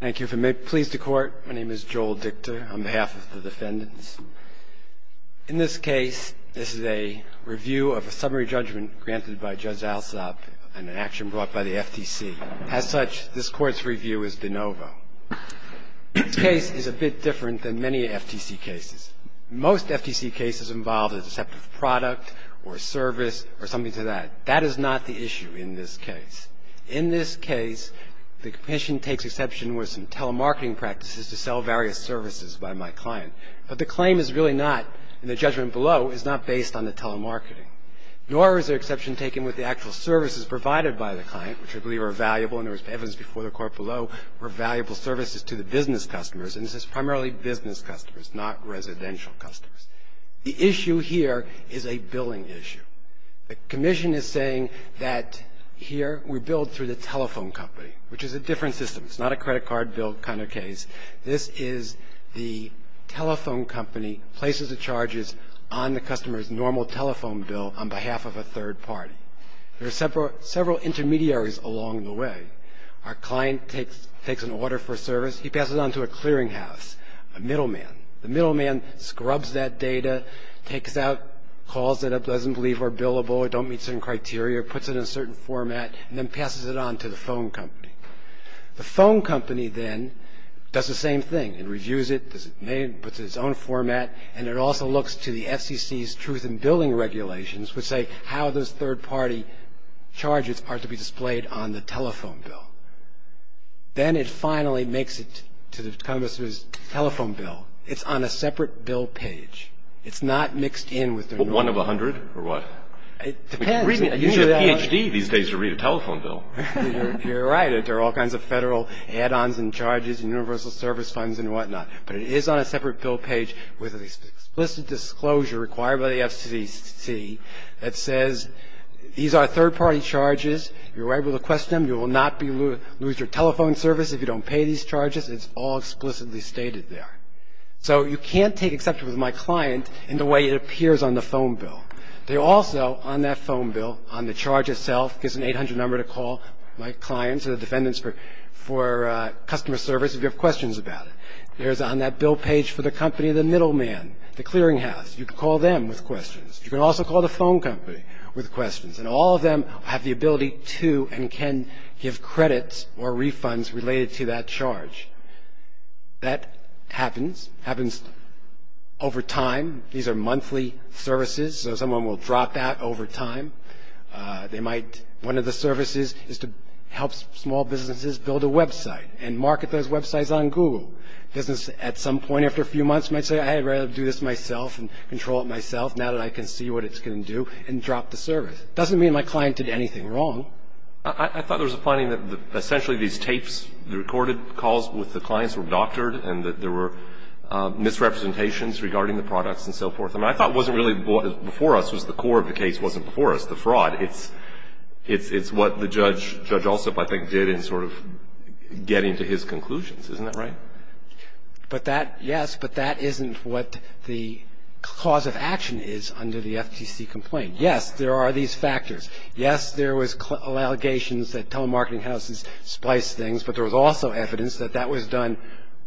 Thank you. If it pleases the Court, my name is Joel Dickter on behalf of the defendants. In this case, this is a review of a summary judgment granted by Judge Alsop and an action brought by the FTC. As such, this Court's review is de novo. This case is a bit different than many FTC cases. Most FTC cases involve a deceptive product or service or something to that. That is not the issue in this case. In this case, the Commission takes exception with some telemarketing practices to sell various services by my client. But the claim is really not, in the judgment below, is not based on the telemarketing. Nor is there exception taken with the actual services provided by the client, which I believe are valuable and there was evidence before the Court below were valuable services to the business customers. And this is primarily business customers, not residential customers. The issue here is a billing issue. The Commission is saying that here we billed through the telephone company, which is a different system. It's not a credit card bill kind of case. This is the telephone company places the charges on the customer's normal telephone bill on behalf of a third party. There are several intermediaries along the way. Our client takes an order for service. He passes it on to a clearinghouse, a middleman. The middleman scrubs that data, takes out calls that it doesn't believe are billable, don't meet certain criteria, puts it in a certain format, and then passes it on to the phone company. The phone company then does the same thing. It reviews it, puts it in its own format, and it also looks to the FCC's truth in billing regulations, which say how those third party charges are to be displayed on the telephone bill. Then it finally makes it to the customer's telephone bill. It's on a separate bill page. It's not mixed in with the normal. One of a hundred or what? It depends. You need a Ph.D. these days to read a telephone bill. You're right. There are all kinds of federal add-ons and charges and universal service funds and whatnot. But it is on a separate bill page with an explicit disclosure required by the FCC that says these are third party charges. You're right to question them. You will not lose your telephone service if you don't pay these charges. It's all explicitly stated there. So you can't take exception with my client in the way it appears on the phone bill. They also, on that phone bill, on the charge itself, gives an 800 number to call my clients or the defendants for customer service if you have questions about it. There's on that bill page for the company the middleman, the clearinghouse. You can call them with questions. You can also call the phone company with questions. And all of them have the ability to and can give credits or refunds related to that charge. That happens. It happens over time. These are monthly services. So someone will drop that over time. One of the services is to help small businesses build a website and market those websites on Google. Businesses at some point after a few months might say, I'd rather do this myself and control it myself now that I can see what it's going to do, and drop the service. It doesn't mean my client did anything wrong. I thought there was a finding that essentially these tapes, the recorded calls with the clients were doctored and that there were misrepresentations regarding the products and so forth. I mean, I thought it wasn't really before us. It was the core of the case wasn't before us, the fraud. It's what the judge, Judge Alsup, I think, did in sort of getting to his conclusions. Isn't that right? But that, yes, but that isn't what the cause of action is under the FTC complaint. Yes, there are these factors. Yes, there was allegations that telemarketing houses spliced things, but there was also evidence that that was done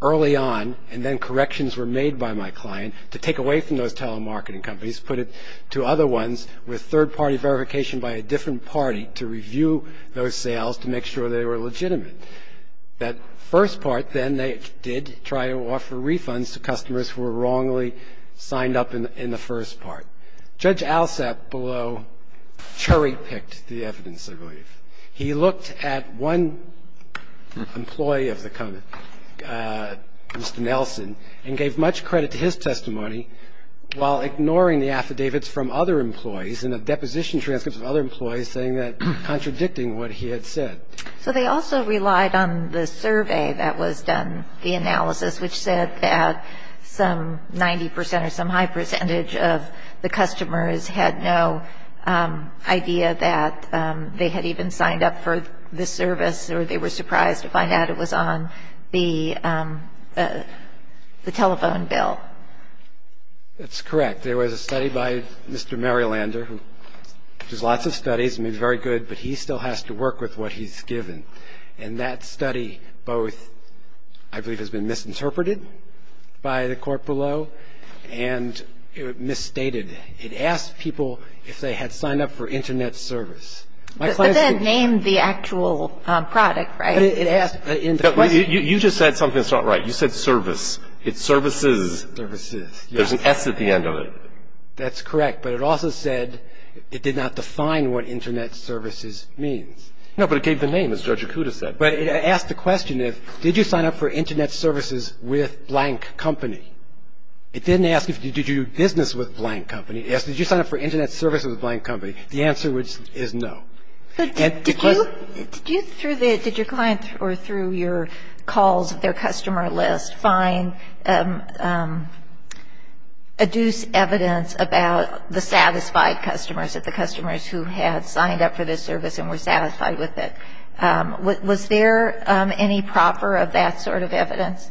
early on, and then corrections were made by my client to take away from those telemarketing companies, put it to other ones with third-party verification by a different party to review those sales to make sure they were legitimate. That first part then they did try to offer refunds to customers who were wrongly signed up in the first part. Judge Alsup, although, cherry-picked the evidence, I believe. He looked at one employee of the company, Mr. Nelson, and gave much credit to his testimony while ignoring the affidavits from other employees and the deposition transcripts of other employees saying that contradicting what he had said. So they also relied on the survey that was done, the analysis, which said that some 90 percent or some high percentage of the customers had no idea that they had even signed up for this service or they were surprised to find out it was on the telephone bill. That's correct. There was a study by Mr. Marylander, who does lots of studies and is very good, but he still has to work with what he's given. And that study both, I believe, has been misinterpreted by the court below and misstated. It asked people if they had signed up for Internet service. But that named the actual product, right? You just said something that's not right. You said service. It's services. There's an S at the end of it. That's correct. But it also said it did not define what Internet services means. No, but it gave the name, as Judge Akuta said. But it asked the question if, did you sign up for Internet services with blank company? It didn't ask if did you do business with blank company. It asked did you sign up for Internet services with blank company. The answer is no. Did you, through the, did your client or through your calls of their customer list find, adduce evidence about the satisfied customers, the customers who had signed up for this service and were satisfied with it? Was there any proper of that sort of evidence?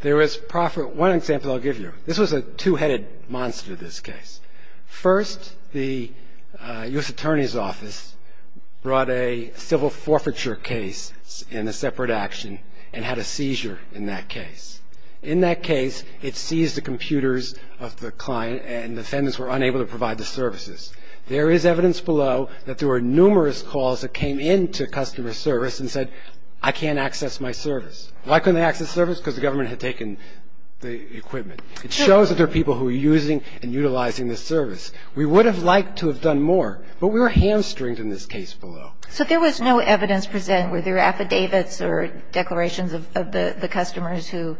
There was proper. One example I'll give you. This was a two-headed monster, this case. First, the U.S. Attorney's Office brought a civil forfeiture case in a separate action and had a seizure in that case. In that case, it seized the computers of the client and the defendants were unable to provide the services. There is evidence below that there were numerous calls that came in to customer service and said, I can't access my service. Why couldn't they access service? Because the government had taken the equipment. It shows that there are people who are using and utilizing this service. We would have liked to have done more, but we were hamstringed in this case below. So there was no evidence present. Were there affidavits or declarations of the customers who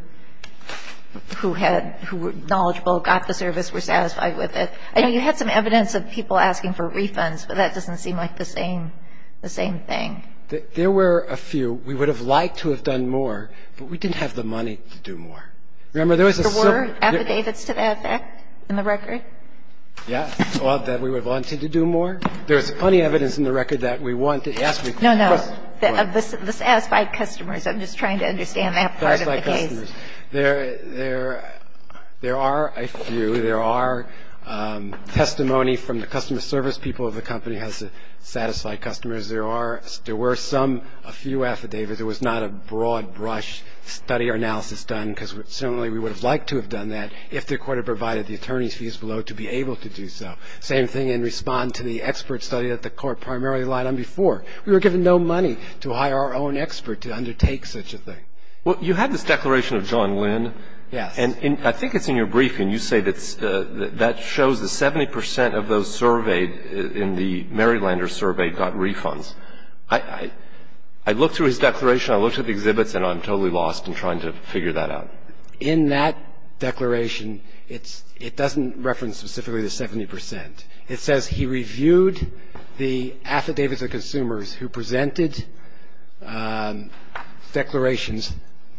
had, who were knowledgeable, got the service, were satisfied with it? I know you had some evidence of people asking for refunds, but that doesn't seem like the same thing. There were a few. We would have liked to have done more, but we didn't have the money to do more. Remember, there was a certain – Were there affidavits to that effect in the record? Yes. That we would have wanted to do more. There's plenty of evidence in the record that we wanted – No, no. Of the satisfied customers. I'm just trying to understand that part of the case. There are a few. There are testimony from the customer service people of the company has satisfied customers. There are – there were some, a few affidavits. There was not a broad brush study or analysis done because certainly we would have liked to have done that if the court had provided the attorney's fees below to be able to do so. Same thing in response to the expert study that the court primarily relied on before. We were given no money to hire our own expert to undertake such a thing. Well, you had this declaration of John Wynn. Yes. And I think it's in your briefing. You say that shows the 70 percent of those surveyed in the Marylander survey got refunds. I looked through his declaration. I looked at the exhibits, and I'm totally lost in trying to figure that out. In that declaration, it doesn't reference specifically the 70 percent. It says he reviewed the affidavits of consumers who presented declarations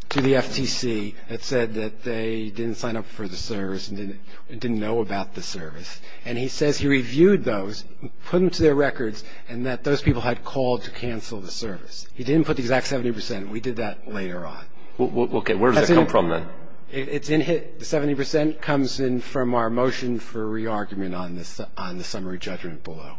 to the FTC that said that they didn't sign up for the service and didn't know about the service. And he says he reviewed those, put them to their records, and that those people had called to cancel the service. He didn't put the exact 70 percent. We did that later on. Okay. Where does that come from then? It's in here. The 70 percent comes in from our motion for re-argument on the summary judgment below.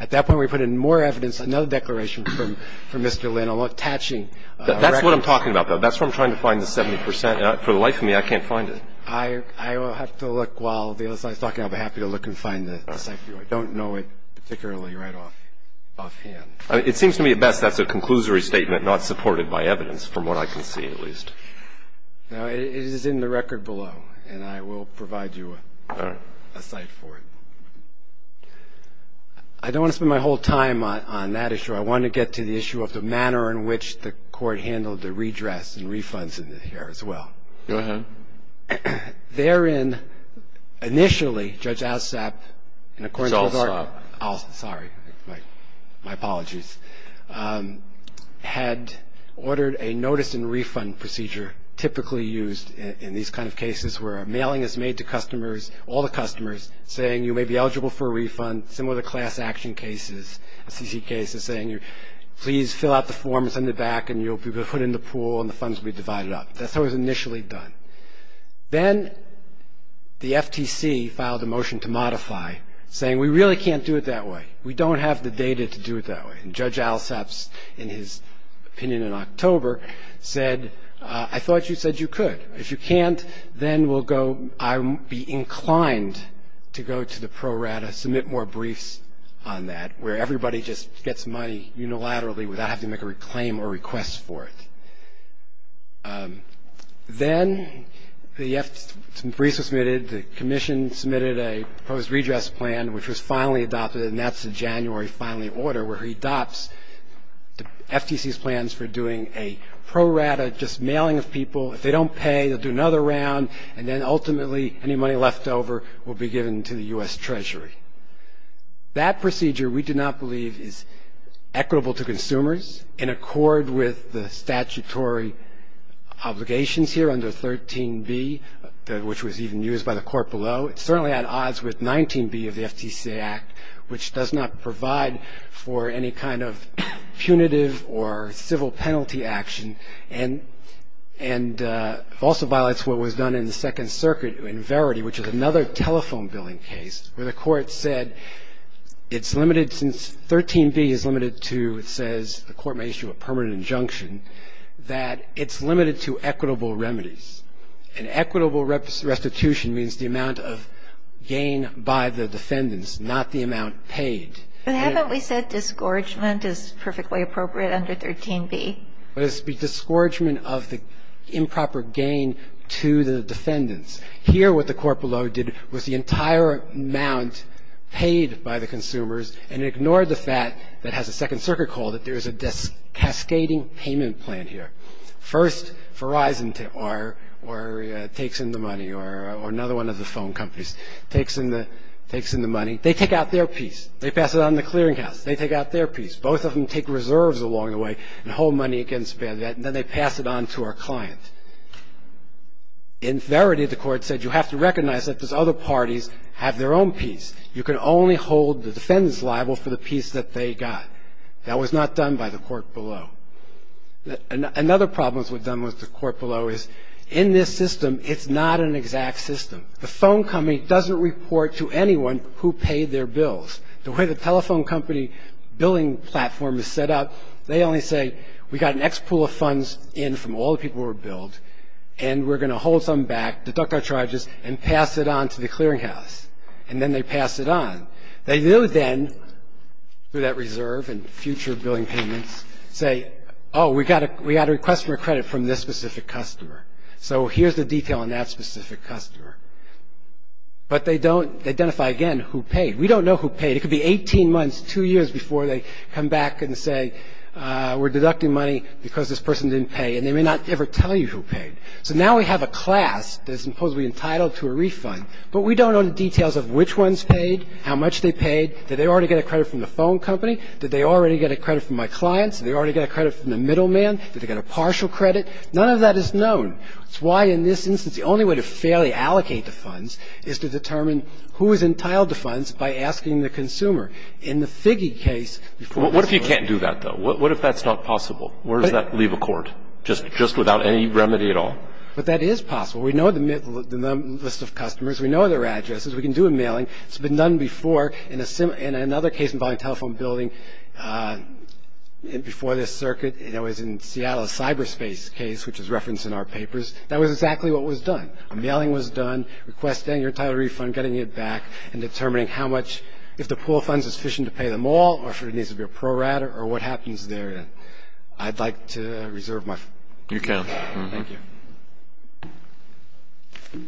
At that point, we put in more evidence, another declaration from Mr. Lynn, attaching records. That's what I'm talking about, though. That's where I'm trying to find the 70 percent. For the life of me, I can't find it. I will have to look while the other side is talking. I'll be happy to look and find it. I don't know it particularly right offhand. It seems to me at best that's a conclusory statement not supported by evidence, from what I can see at least. No, it is in the record below, and I will provide you a cite for it. I don't want to spend my whole time on that issue. I want to get to the issue of the manner in which the court handled the redress and refunds in here as well. Go ahead. Therein, initially, Judge Alsop, in accordance with our --. It's Alsop. Sorry. My apologies. Had ordered a notice and refund procedure typically used in these kind of cases where a mailing is made to customers, all the customers, saying you may be eligible for a refund, similar to class action cases, CC cases saying please fill out the form and send it back, and you'll be put in the pool and the funds will be divided up. That's how it was initially done. Then the FTC filed a motion to modify, saying we really can't do it that way. We don't have the data to do it that way. And Judge Alsop, in his opinion in October, said I thought you said you could. If you can't, then we'll go. I'll be inclined to go to the pro rata, submit more briefs on that, where everybody just gets money unilaterally without having to make a claim or request for it. Then the briefs were submitted, the commission submitted a proposed redress plan, which was finally adopted, and that's the January filing order, where he adopts the FTC's plans for doing a pro rata, just mailing of people. If they don't pay, they'll do another round, and then ultimately any money left over will be given to the U.S. Treasury. That procedure we do not believe is equitable to consumers. In accord with the statutory obligations here under 13b, which was even used by the court below, it certainly had odds with 19b of the FTC Act, which does not provide for any kind of punitive or civil penalty action, and also violates what was done in the Second Circuit in Verity, which is another telephone billing case where the court said it's limited since 13b is limited to, it says the court may issue a permanent injunction, that it's limited to equitable remedies. And equitable restitution means the amount of gain by the defendants, not the amount paid. But haven't we said disgorgement is perfectly appropriate under 13b? It's the disgorgement of the improper gain to the defendants. Here what the court below did was the entire amount paid by the consumers and ignored the fact that has a Second Circuit call that there is a cascading payment plan here. First, Verizon takes in the money or another one of the phone companies takes in the money. They take out their piece. They pass it on to the clearing house. They take out their piece. Both of them take reserves along the way and hold money against that, and then they pass it on to our client. In Verity, the court said you have to recognize that those other parties have their own piece. You can only hold the defendants liable for the piece that they got. That was not done by the court below. Another problem that was done with the court below is in this system, it's not an exact system. The phone company doesn't report to anyone who paid their bills. The way the telephone company billing platform is set up, they only say we got an X pool of funds in from all the people who were billed, and we're going to hold some back, deduct our charges, and pass it on to the clearing house. And then they pass it on. They do then, through that reserve and future billing payments, say, oh, we got a request for credit from this specific customer. So here's the detail on that specific customer. But they don't identify, again, who paid. We don't know who paid. It could be 18 months, two years before they come back and say we're deducting money because this person didn't pay, and they may not ever tell you who paid. So now we have a class that's supposedly entitled to a refund, but we don't know the details of which ones paid, how much they paid. Did they already get a credit from the phone company? Did they already get a credit from my clients? Did they already get a credit from the middleman? Did they get a partial credit? None of that is known. That's why, in this instance, the only way to fairly allocate the funds is to determine who is entitled to funds by asking the consumer. In the Figge case before this Court ---- What if you can't do that, though? What if that's not possible? Where does that leave a court, just without any remedy at all? But that is possible. We know the list of customers. We know their addresses. We can do a mailing. It's been done before in another case involving a telephone building before this circuit. It was in Seattle's cyberspace case, which is referenced in our papers. That was exactly what was done. A mailing was done, requesting your entitled refund, getting it back, and determining how much ---- if the pool of funds is sufficient to pay them all, or if there needs to be a pro rata, or what happens there. I'd like to reserve my time. You can. Thank you. Good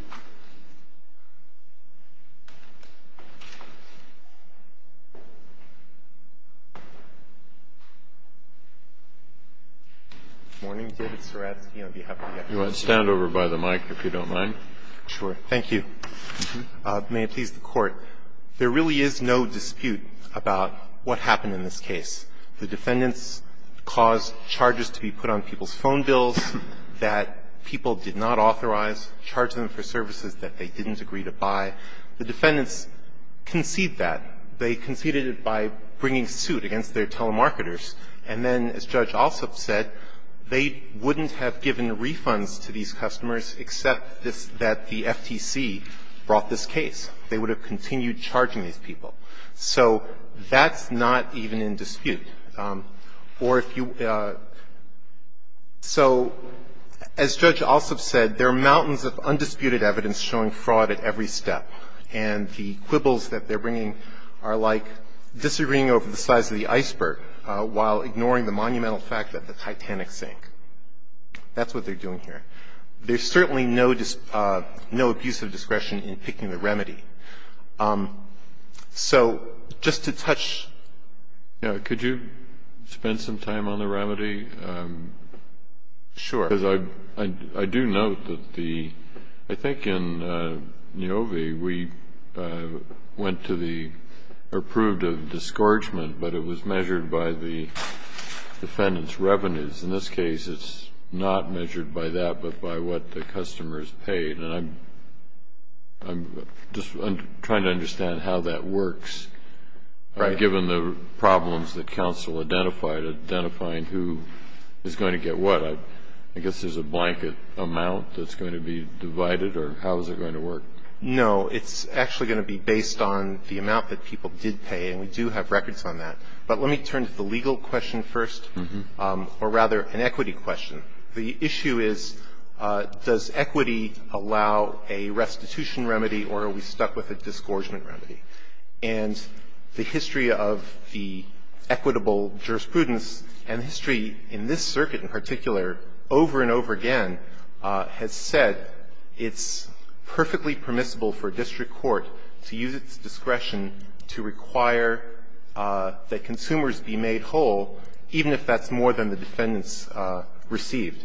morning. David Seradsky on behalf of the FBI. Stand over by the mic if you don't mind. Sure. Thank you. May it please the Court. There really is no dispute about what happened in this case. The defendants caused charges to be put on people's phone bills that people did not authorize, charged them for services that they didn't agree to buy. The defendants conceded that. They conceded it by bringing suit against their telemarketers. And then, as Judge Alsop said, they wouldn't have given refunds to these customers except that the FTC brought this case. They would have continued charging these people. So that's not even in dispute. Or if you ---- so as Judge Alsop said, there are mountains of undisputed evidence showing fraud at every step. And the quibbles that they're bringing are like disagreeing over the size of the iceberg while ignoring the monumental fact that the Titanic sank. That's what they're doing here. There's certainly no abuse of discretion in picking the remedy. So just to touch ---- Kennedy, could you spend some time on the remedy? Sure. Because I do note that the ---- I think in Niovi, we went to the approved of disgorgement, but it was measured by the defendant's revenues. In this case, it's not measured by that, but by what the customer has paid. And I'm just trying to understand how that works. Right. Given the problems that counsel identified, identifying who is going to get what, I guess there's a blanket amount that's going to be divided, or how is it going to work? No, it's actually going to be based on the amount that people did pay, and we do have records on that. But let me turn to the legal question first, or rather an equity question. The issue is, does equity allow a restitution remedy, or are we stuck with a disgorgement remedy? And the history of the equitable jurisprudence and history in this circuit in particular over and over again has said it's perfectly permissible for a district court to use its discretion to require that consumers be made whole, even if that's more than the defendants received.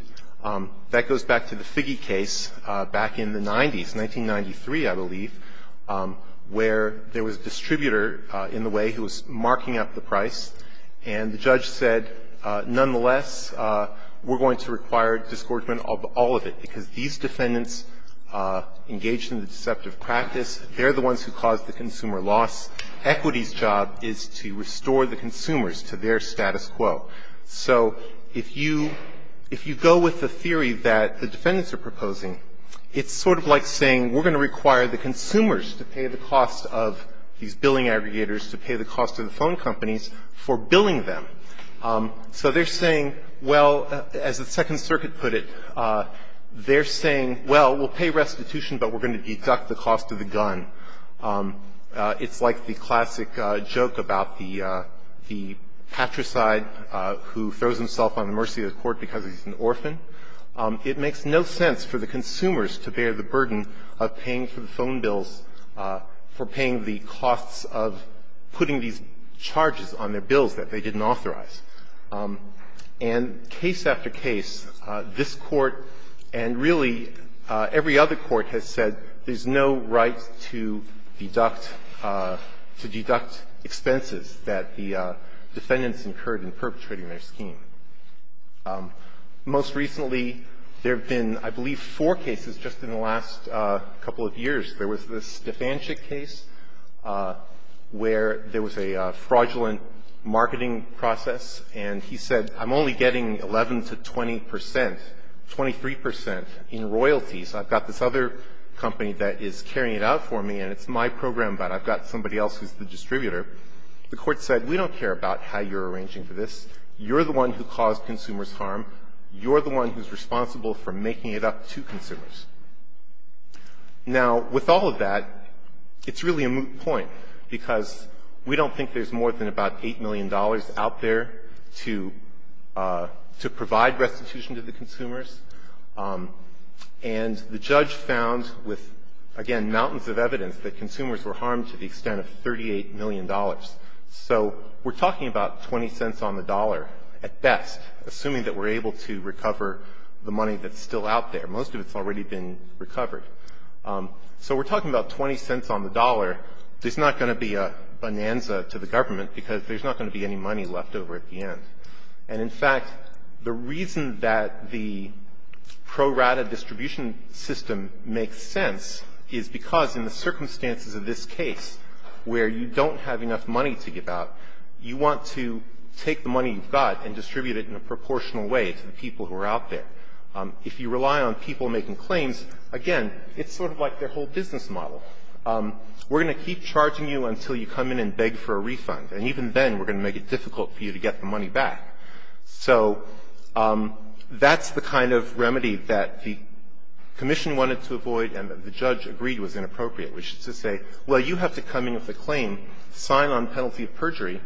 That goes back to the Figge case back in the 90s, 1993, I believe, where there was a distributor in the way who was marking up the price, and the judge said, nonetheless, we're going to require disgorgement of all of it, because these defendants engaged in the deceptive practice. They're the ones who caused the consumer loss. Equity's job is to restore the consumers to their status quo. So if you go with the theory that the defendants are proposing, it's sort of like saying we're going to require the consumers to pay the cost of these billing aggregators to pay the cost of the phone companies for billing them. So they're saying, well, as the Second Circuit put it, they're saying, well, we'll pay restitution, but we're going to deduct the cost of the gun. It's like the classic joke about the patricide who throws himself on the mercy of the court because he's an orphan. It makes no sense for the consumers to bear the burden of paying for the phone bills, for paying the costs of putting these charges on their bills that they didn't authorize. And case after case, this Court, and really every other court, has said there's no right to deduct to deduct expenses that the defendants incurred in perpetrating their scheme. Most recently, there have been, I believe, four cases just in the last couple of years. There was this Defanchik case where there was a fraudulent marketing process, and he said, I'm only getting 11 to 20 percent, 23 percent in royalties. I've got this other company that is carrying it out for me, and it's my program, but I've got somebody else who's the distributor. The Court said, we don't care about how you're arranging for this. You're the one who caused consumers harm. You're the one who's responsible for making it up to consumers. Now, with all of that, it's really a moot point, because we don't think there's more than about $8 million out there to provide restitution to the consumers. And the judge found, with, again, mountains of evidence, that consumers were harmed to the extent of $38 million. So we're talking about 20 cents on the dollar at best, assuming that we're able to recover the money that's still out there. Most of it's already been recovered. So we're talking about 20 cents on the dollar. There's not going to be a bonanza to the government, because there's not going to be any money left over at the end. And, in fact, the reason that the pro rata distribution system makes sense is because in the circumstances of this case, where you don't have enough money to give out, you want to take the money you've got and distribute it in a proportional way to the people who are out there. If you rely on people making claims, again, it's sort of like their whole business model. We're going to keep charging you until you come in and beg for a refund. And even then, we're going to make it difficult for you to get the money back. So that's the kind of remedy that the commission wanted to avoid and the judge agreed was inappropriate, which is to say, well, you have to come in with a claim, sign on penalty of perjury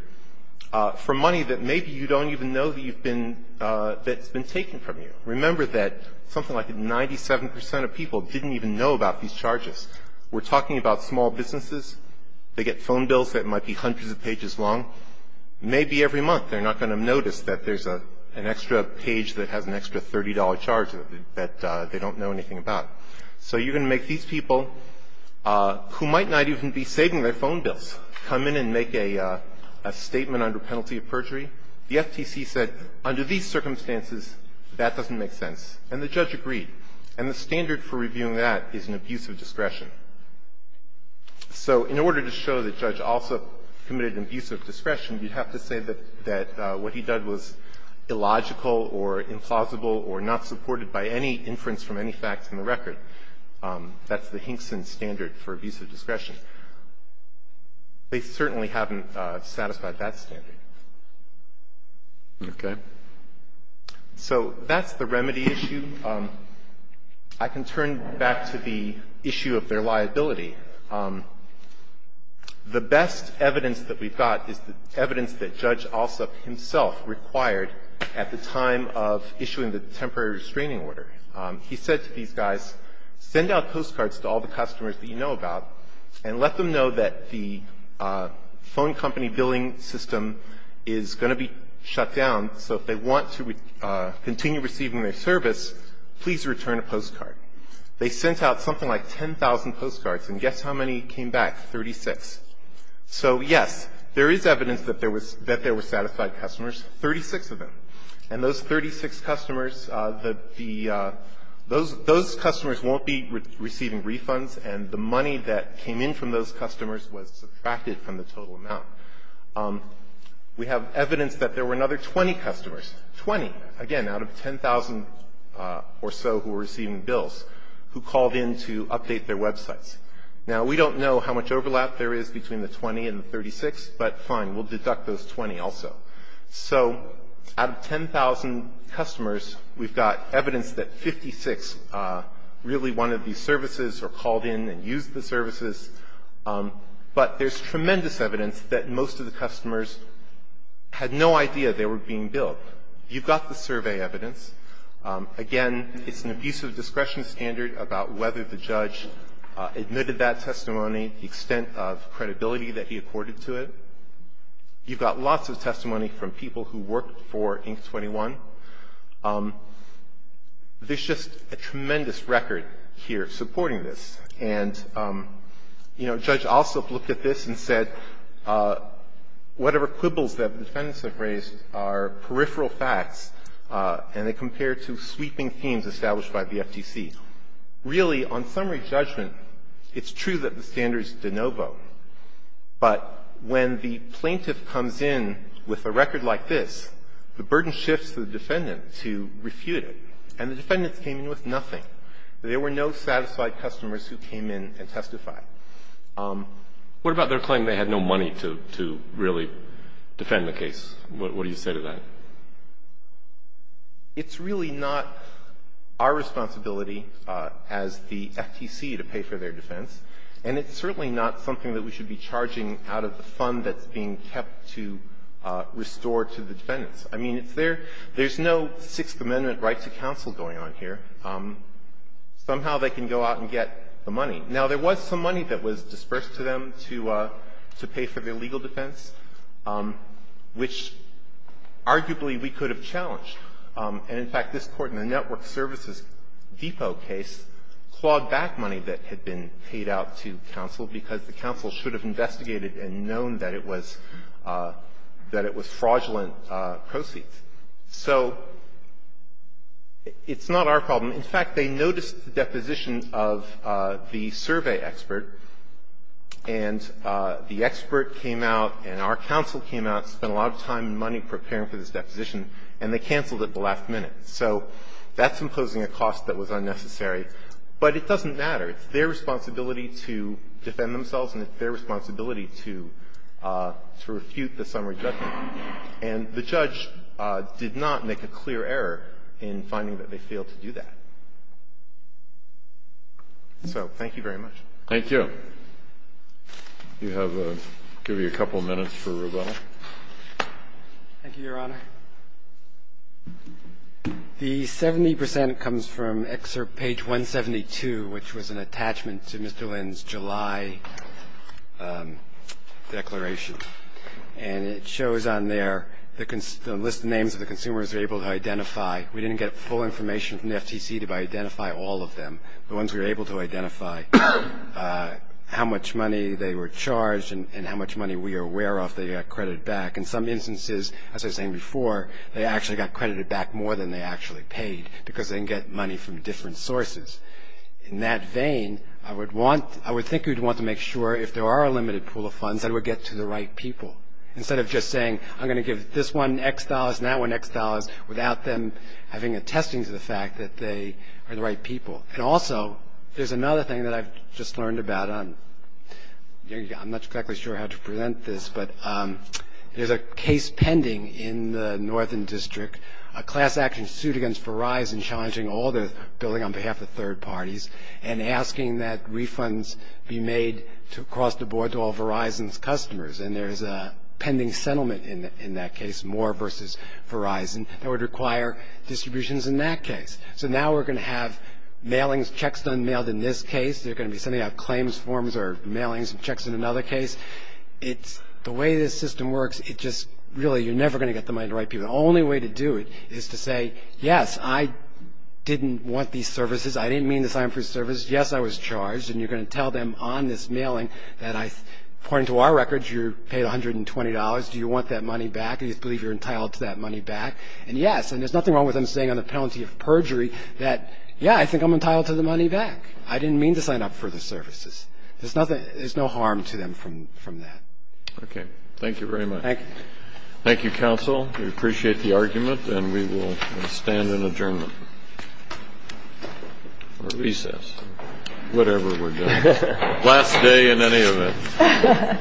for money that maybe you don't even know that you've been – that's been taken from you. Remember that something like 97 percent of people didn't even know about these charges. We're talking about small businesses. They get phone bills that might be hundreds of pages long. Maybe every month they're not going to notice that there's an extra page that has an extra $30 charge that they don't know anything about. So you're going to make these people, who might not even be saving their phone bills, come in and make a statement under penalty of perjury. The FTC said, under these circumstances, that doesn't make sense. And the judge agreed. And the standard for reviewing that is an abuse of discretion. So in order to show that Judge Alsop committed abuse of discretion, you'd have to say that what he did was illogical or implausible or not supported by any inference from any facts in the record. That's the Hinkson standard for abuse of discretion. They certainly haven't satisfied that standard. Okay. So that's the remedy issue. I can turn back to the issue of their liability. The best evidence that we've got is the evidence that Judge Alsop himself required at the time of issuing the temporary restraining order. He said to these guys, send out postcards to all the customers that you know about and let them know that the phone company billing system is going to be shut down. So if they want to continue receiving their service, please return a postcard. They sent out something like 10,000 postcards, and guess how many came back? Thirty-six. So, yes, there is evidence that there was – that there were satisfied customers, 36 of them. And those 36 customers, the – those customers won't be receiving refunds, and the money that came in from those customers was subtracted from the total amount. We have evidence that there were another 20 customers, 20, again, out of 10,000 or so who were receiving bills, who called in to update their websites. Now, we don't know how much overlap there is between the 20 and the 36, but fine, we'll deduct those 20 also. So out of 10,000 customers, we've got evidence that 56 really wanted these services or called in and used the services. But there's tremendous evidence that most of the customers had no idea they were being billed. You've got the survey evidence. Again, it's an abusive discretion standard about whether the judge admitted that testimony, the extent of credibility that he accorded to it. You've got lots of testimony from people who worked for Inc. 21. There's just a tremendous record here supporting this. And, you know, Judge Alsop looked at this and said whatever quibbles that the defendants have raised are peripheral facts, and they compare to sweeping themes established by the FTC. Really, on summary judgment, it's true that the standard is de novo, but when the plaintiff comes in with a record like this, the burden shifts to the defendant to refute it. And the defendants came in with nothing. There were no satisfied customers who came in and testified. What about their claim they had no money to really defend the case? What do you say to that? It's really not our responsibility as the FTC to pay for their defense, and it's certainly not something that we should be charging out of the fund that's being kept to restore to the defendants. I mean, it's their – there's no Sixth Amendment right to counsel going on here. Somehow they can go out and get the money. Now, there was some money that was disbursed to them to pay for their legal defense, which arguably we could have challenged. And, in fact, this Court in the Network Services Depot case clawed back money that had been paid out to counsel because the counsel should have investigated and known that it was fraudulent proceeds. So it's not our problem. In fact, they noticed the deposition of the survey expert, and the expert came out and our counsel came out, spent a lot of time and money preparing for this deposition, and they canceled it at the last minute. So that's imposing a cost that was unnecessary. But it doesn't matter. It's their responsibility to defend themselves, and it's their responsibility to refute the summary judgment. And the judge did not make a clear error in finding that they failed to do that. So thank you very much. Thank you. You have a – I'll give you a couple of minutes for rebuttal. Thank you, Your Honor. The 70 percent comes from excerpt page 172, which was an attachment to Mr. Lynn's July declaration. And it shows on there the list of names of the consumers they were able to identify. We didn't get full information from the FTC to identify all of them. The ones we were able to identify, how much money they were charged and how much money we are aware of they got credited back. In some instances, as I was saying before, they actually got credited back more than they actually paid because they didn't get money from different sources. In that vein, I would want – I would think you'd want to make sure if there are a Instead of just saying, I'm going to give this one X dollars and that one X dollars without them having attesting to the fact that they are the right people. And also, there's another thing that I've just learned about. I'm not exactly sure how to present this, but there's a case pending in the northern district, a class action suit against Verizon challenging all their billing on behalf of third parties and asking that refunds be made across the board to all Verizon's customers. And there's a pending settlement in that case, Moore versus Verizon, that would require distributions in that case. So now we're going to have mailings, checks done and mailed in this case. They're going to be sending out claims forms or mailings and checks in another case. It's – the way this system works, it just – really, you're never going to get the money to the right people. The only way to do it is to say, yes, I didn't want these services. I didn't mean this. I am for service. Yes, I was charged. And you're going to tell them on this mailing that I – according to our records, you paid $120. Do you want that money back? Do you believe you're entitled to that money back? And yes. And there's nothing wrong with them saying on the penalty of perjury that, yeah, I think I'm entitled to the money back. I didn't mean to sign up for the services. There's nothing – there's no harm to them from that. Okay. Thank you very much. Thank you, counsel. We appreciate the argument. And we will stand in adjournment or recess. Whatever we're doing. Last day in any of it.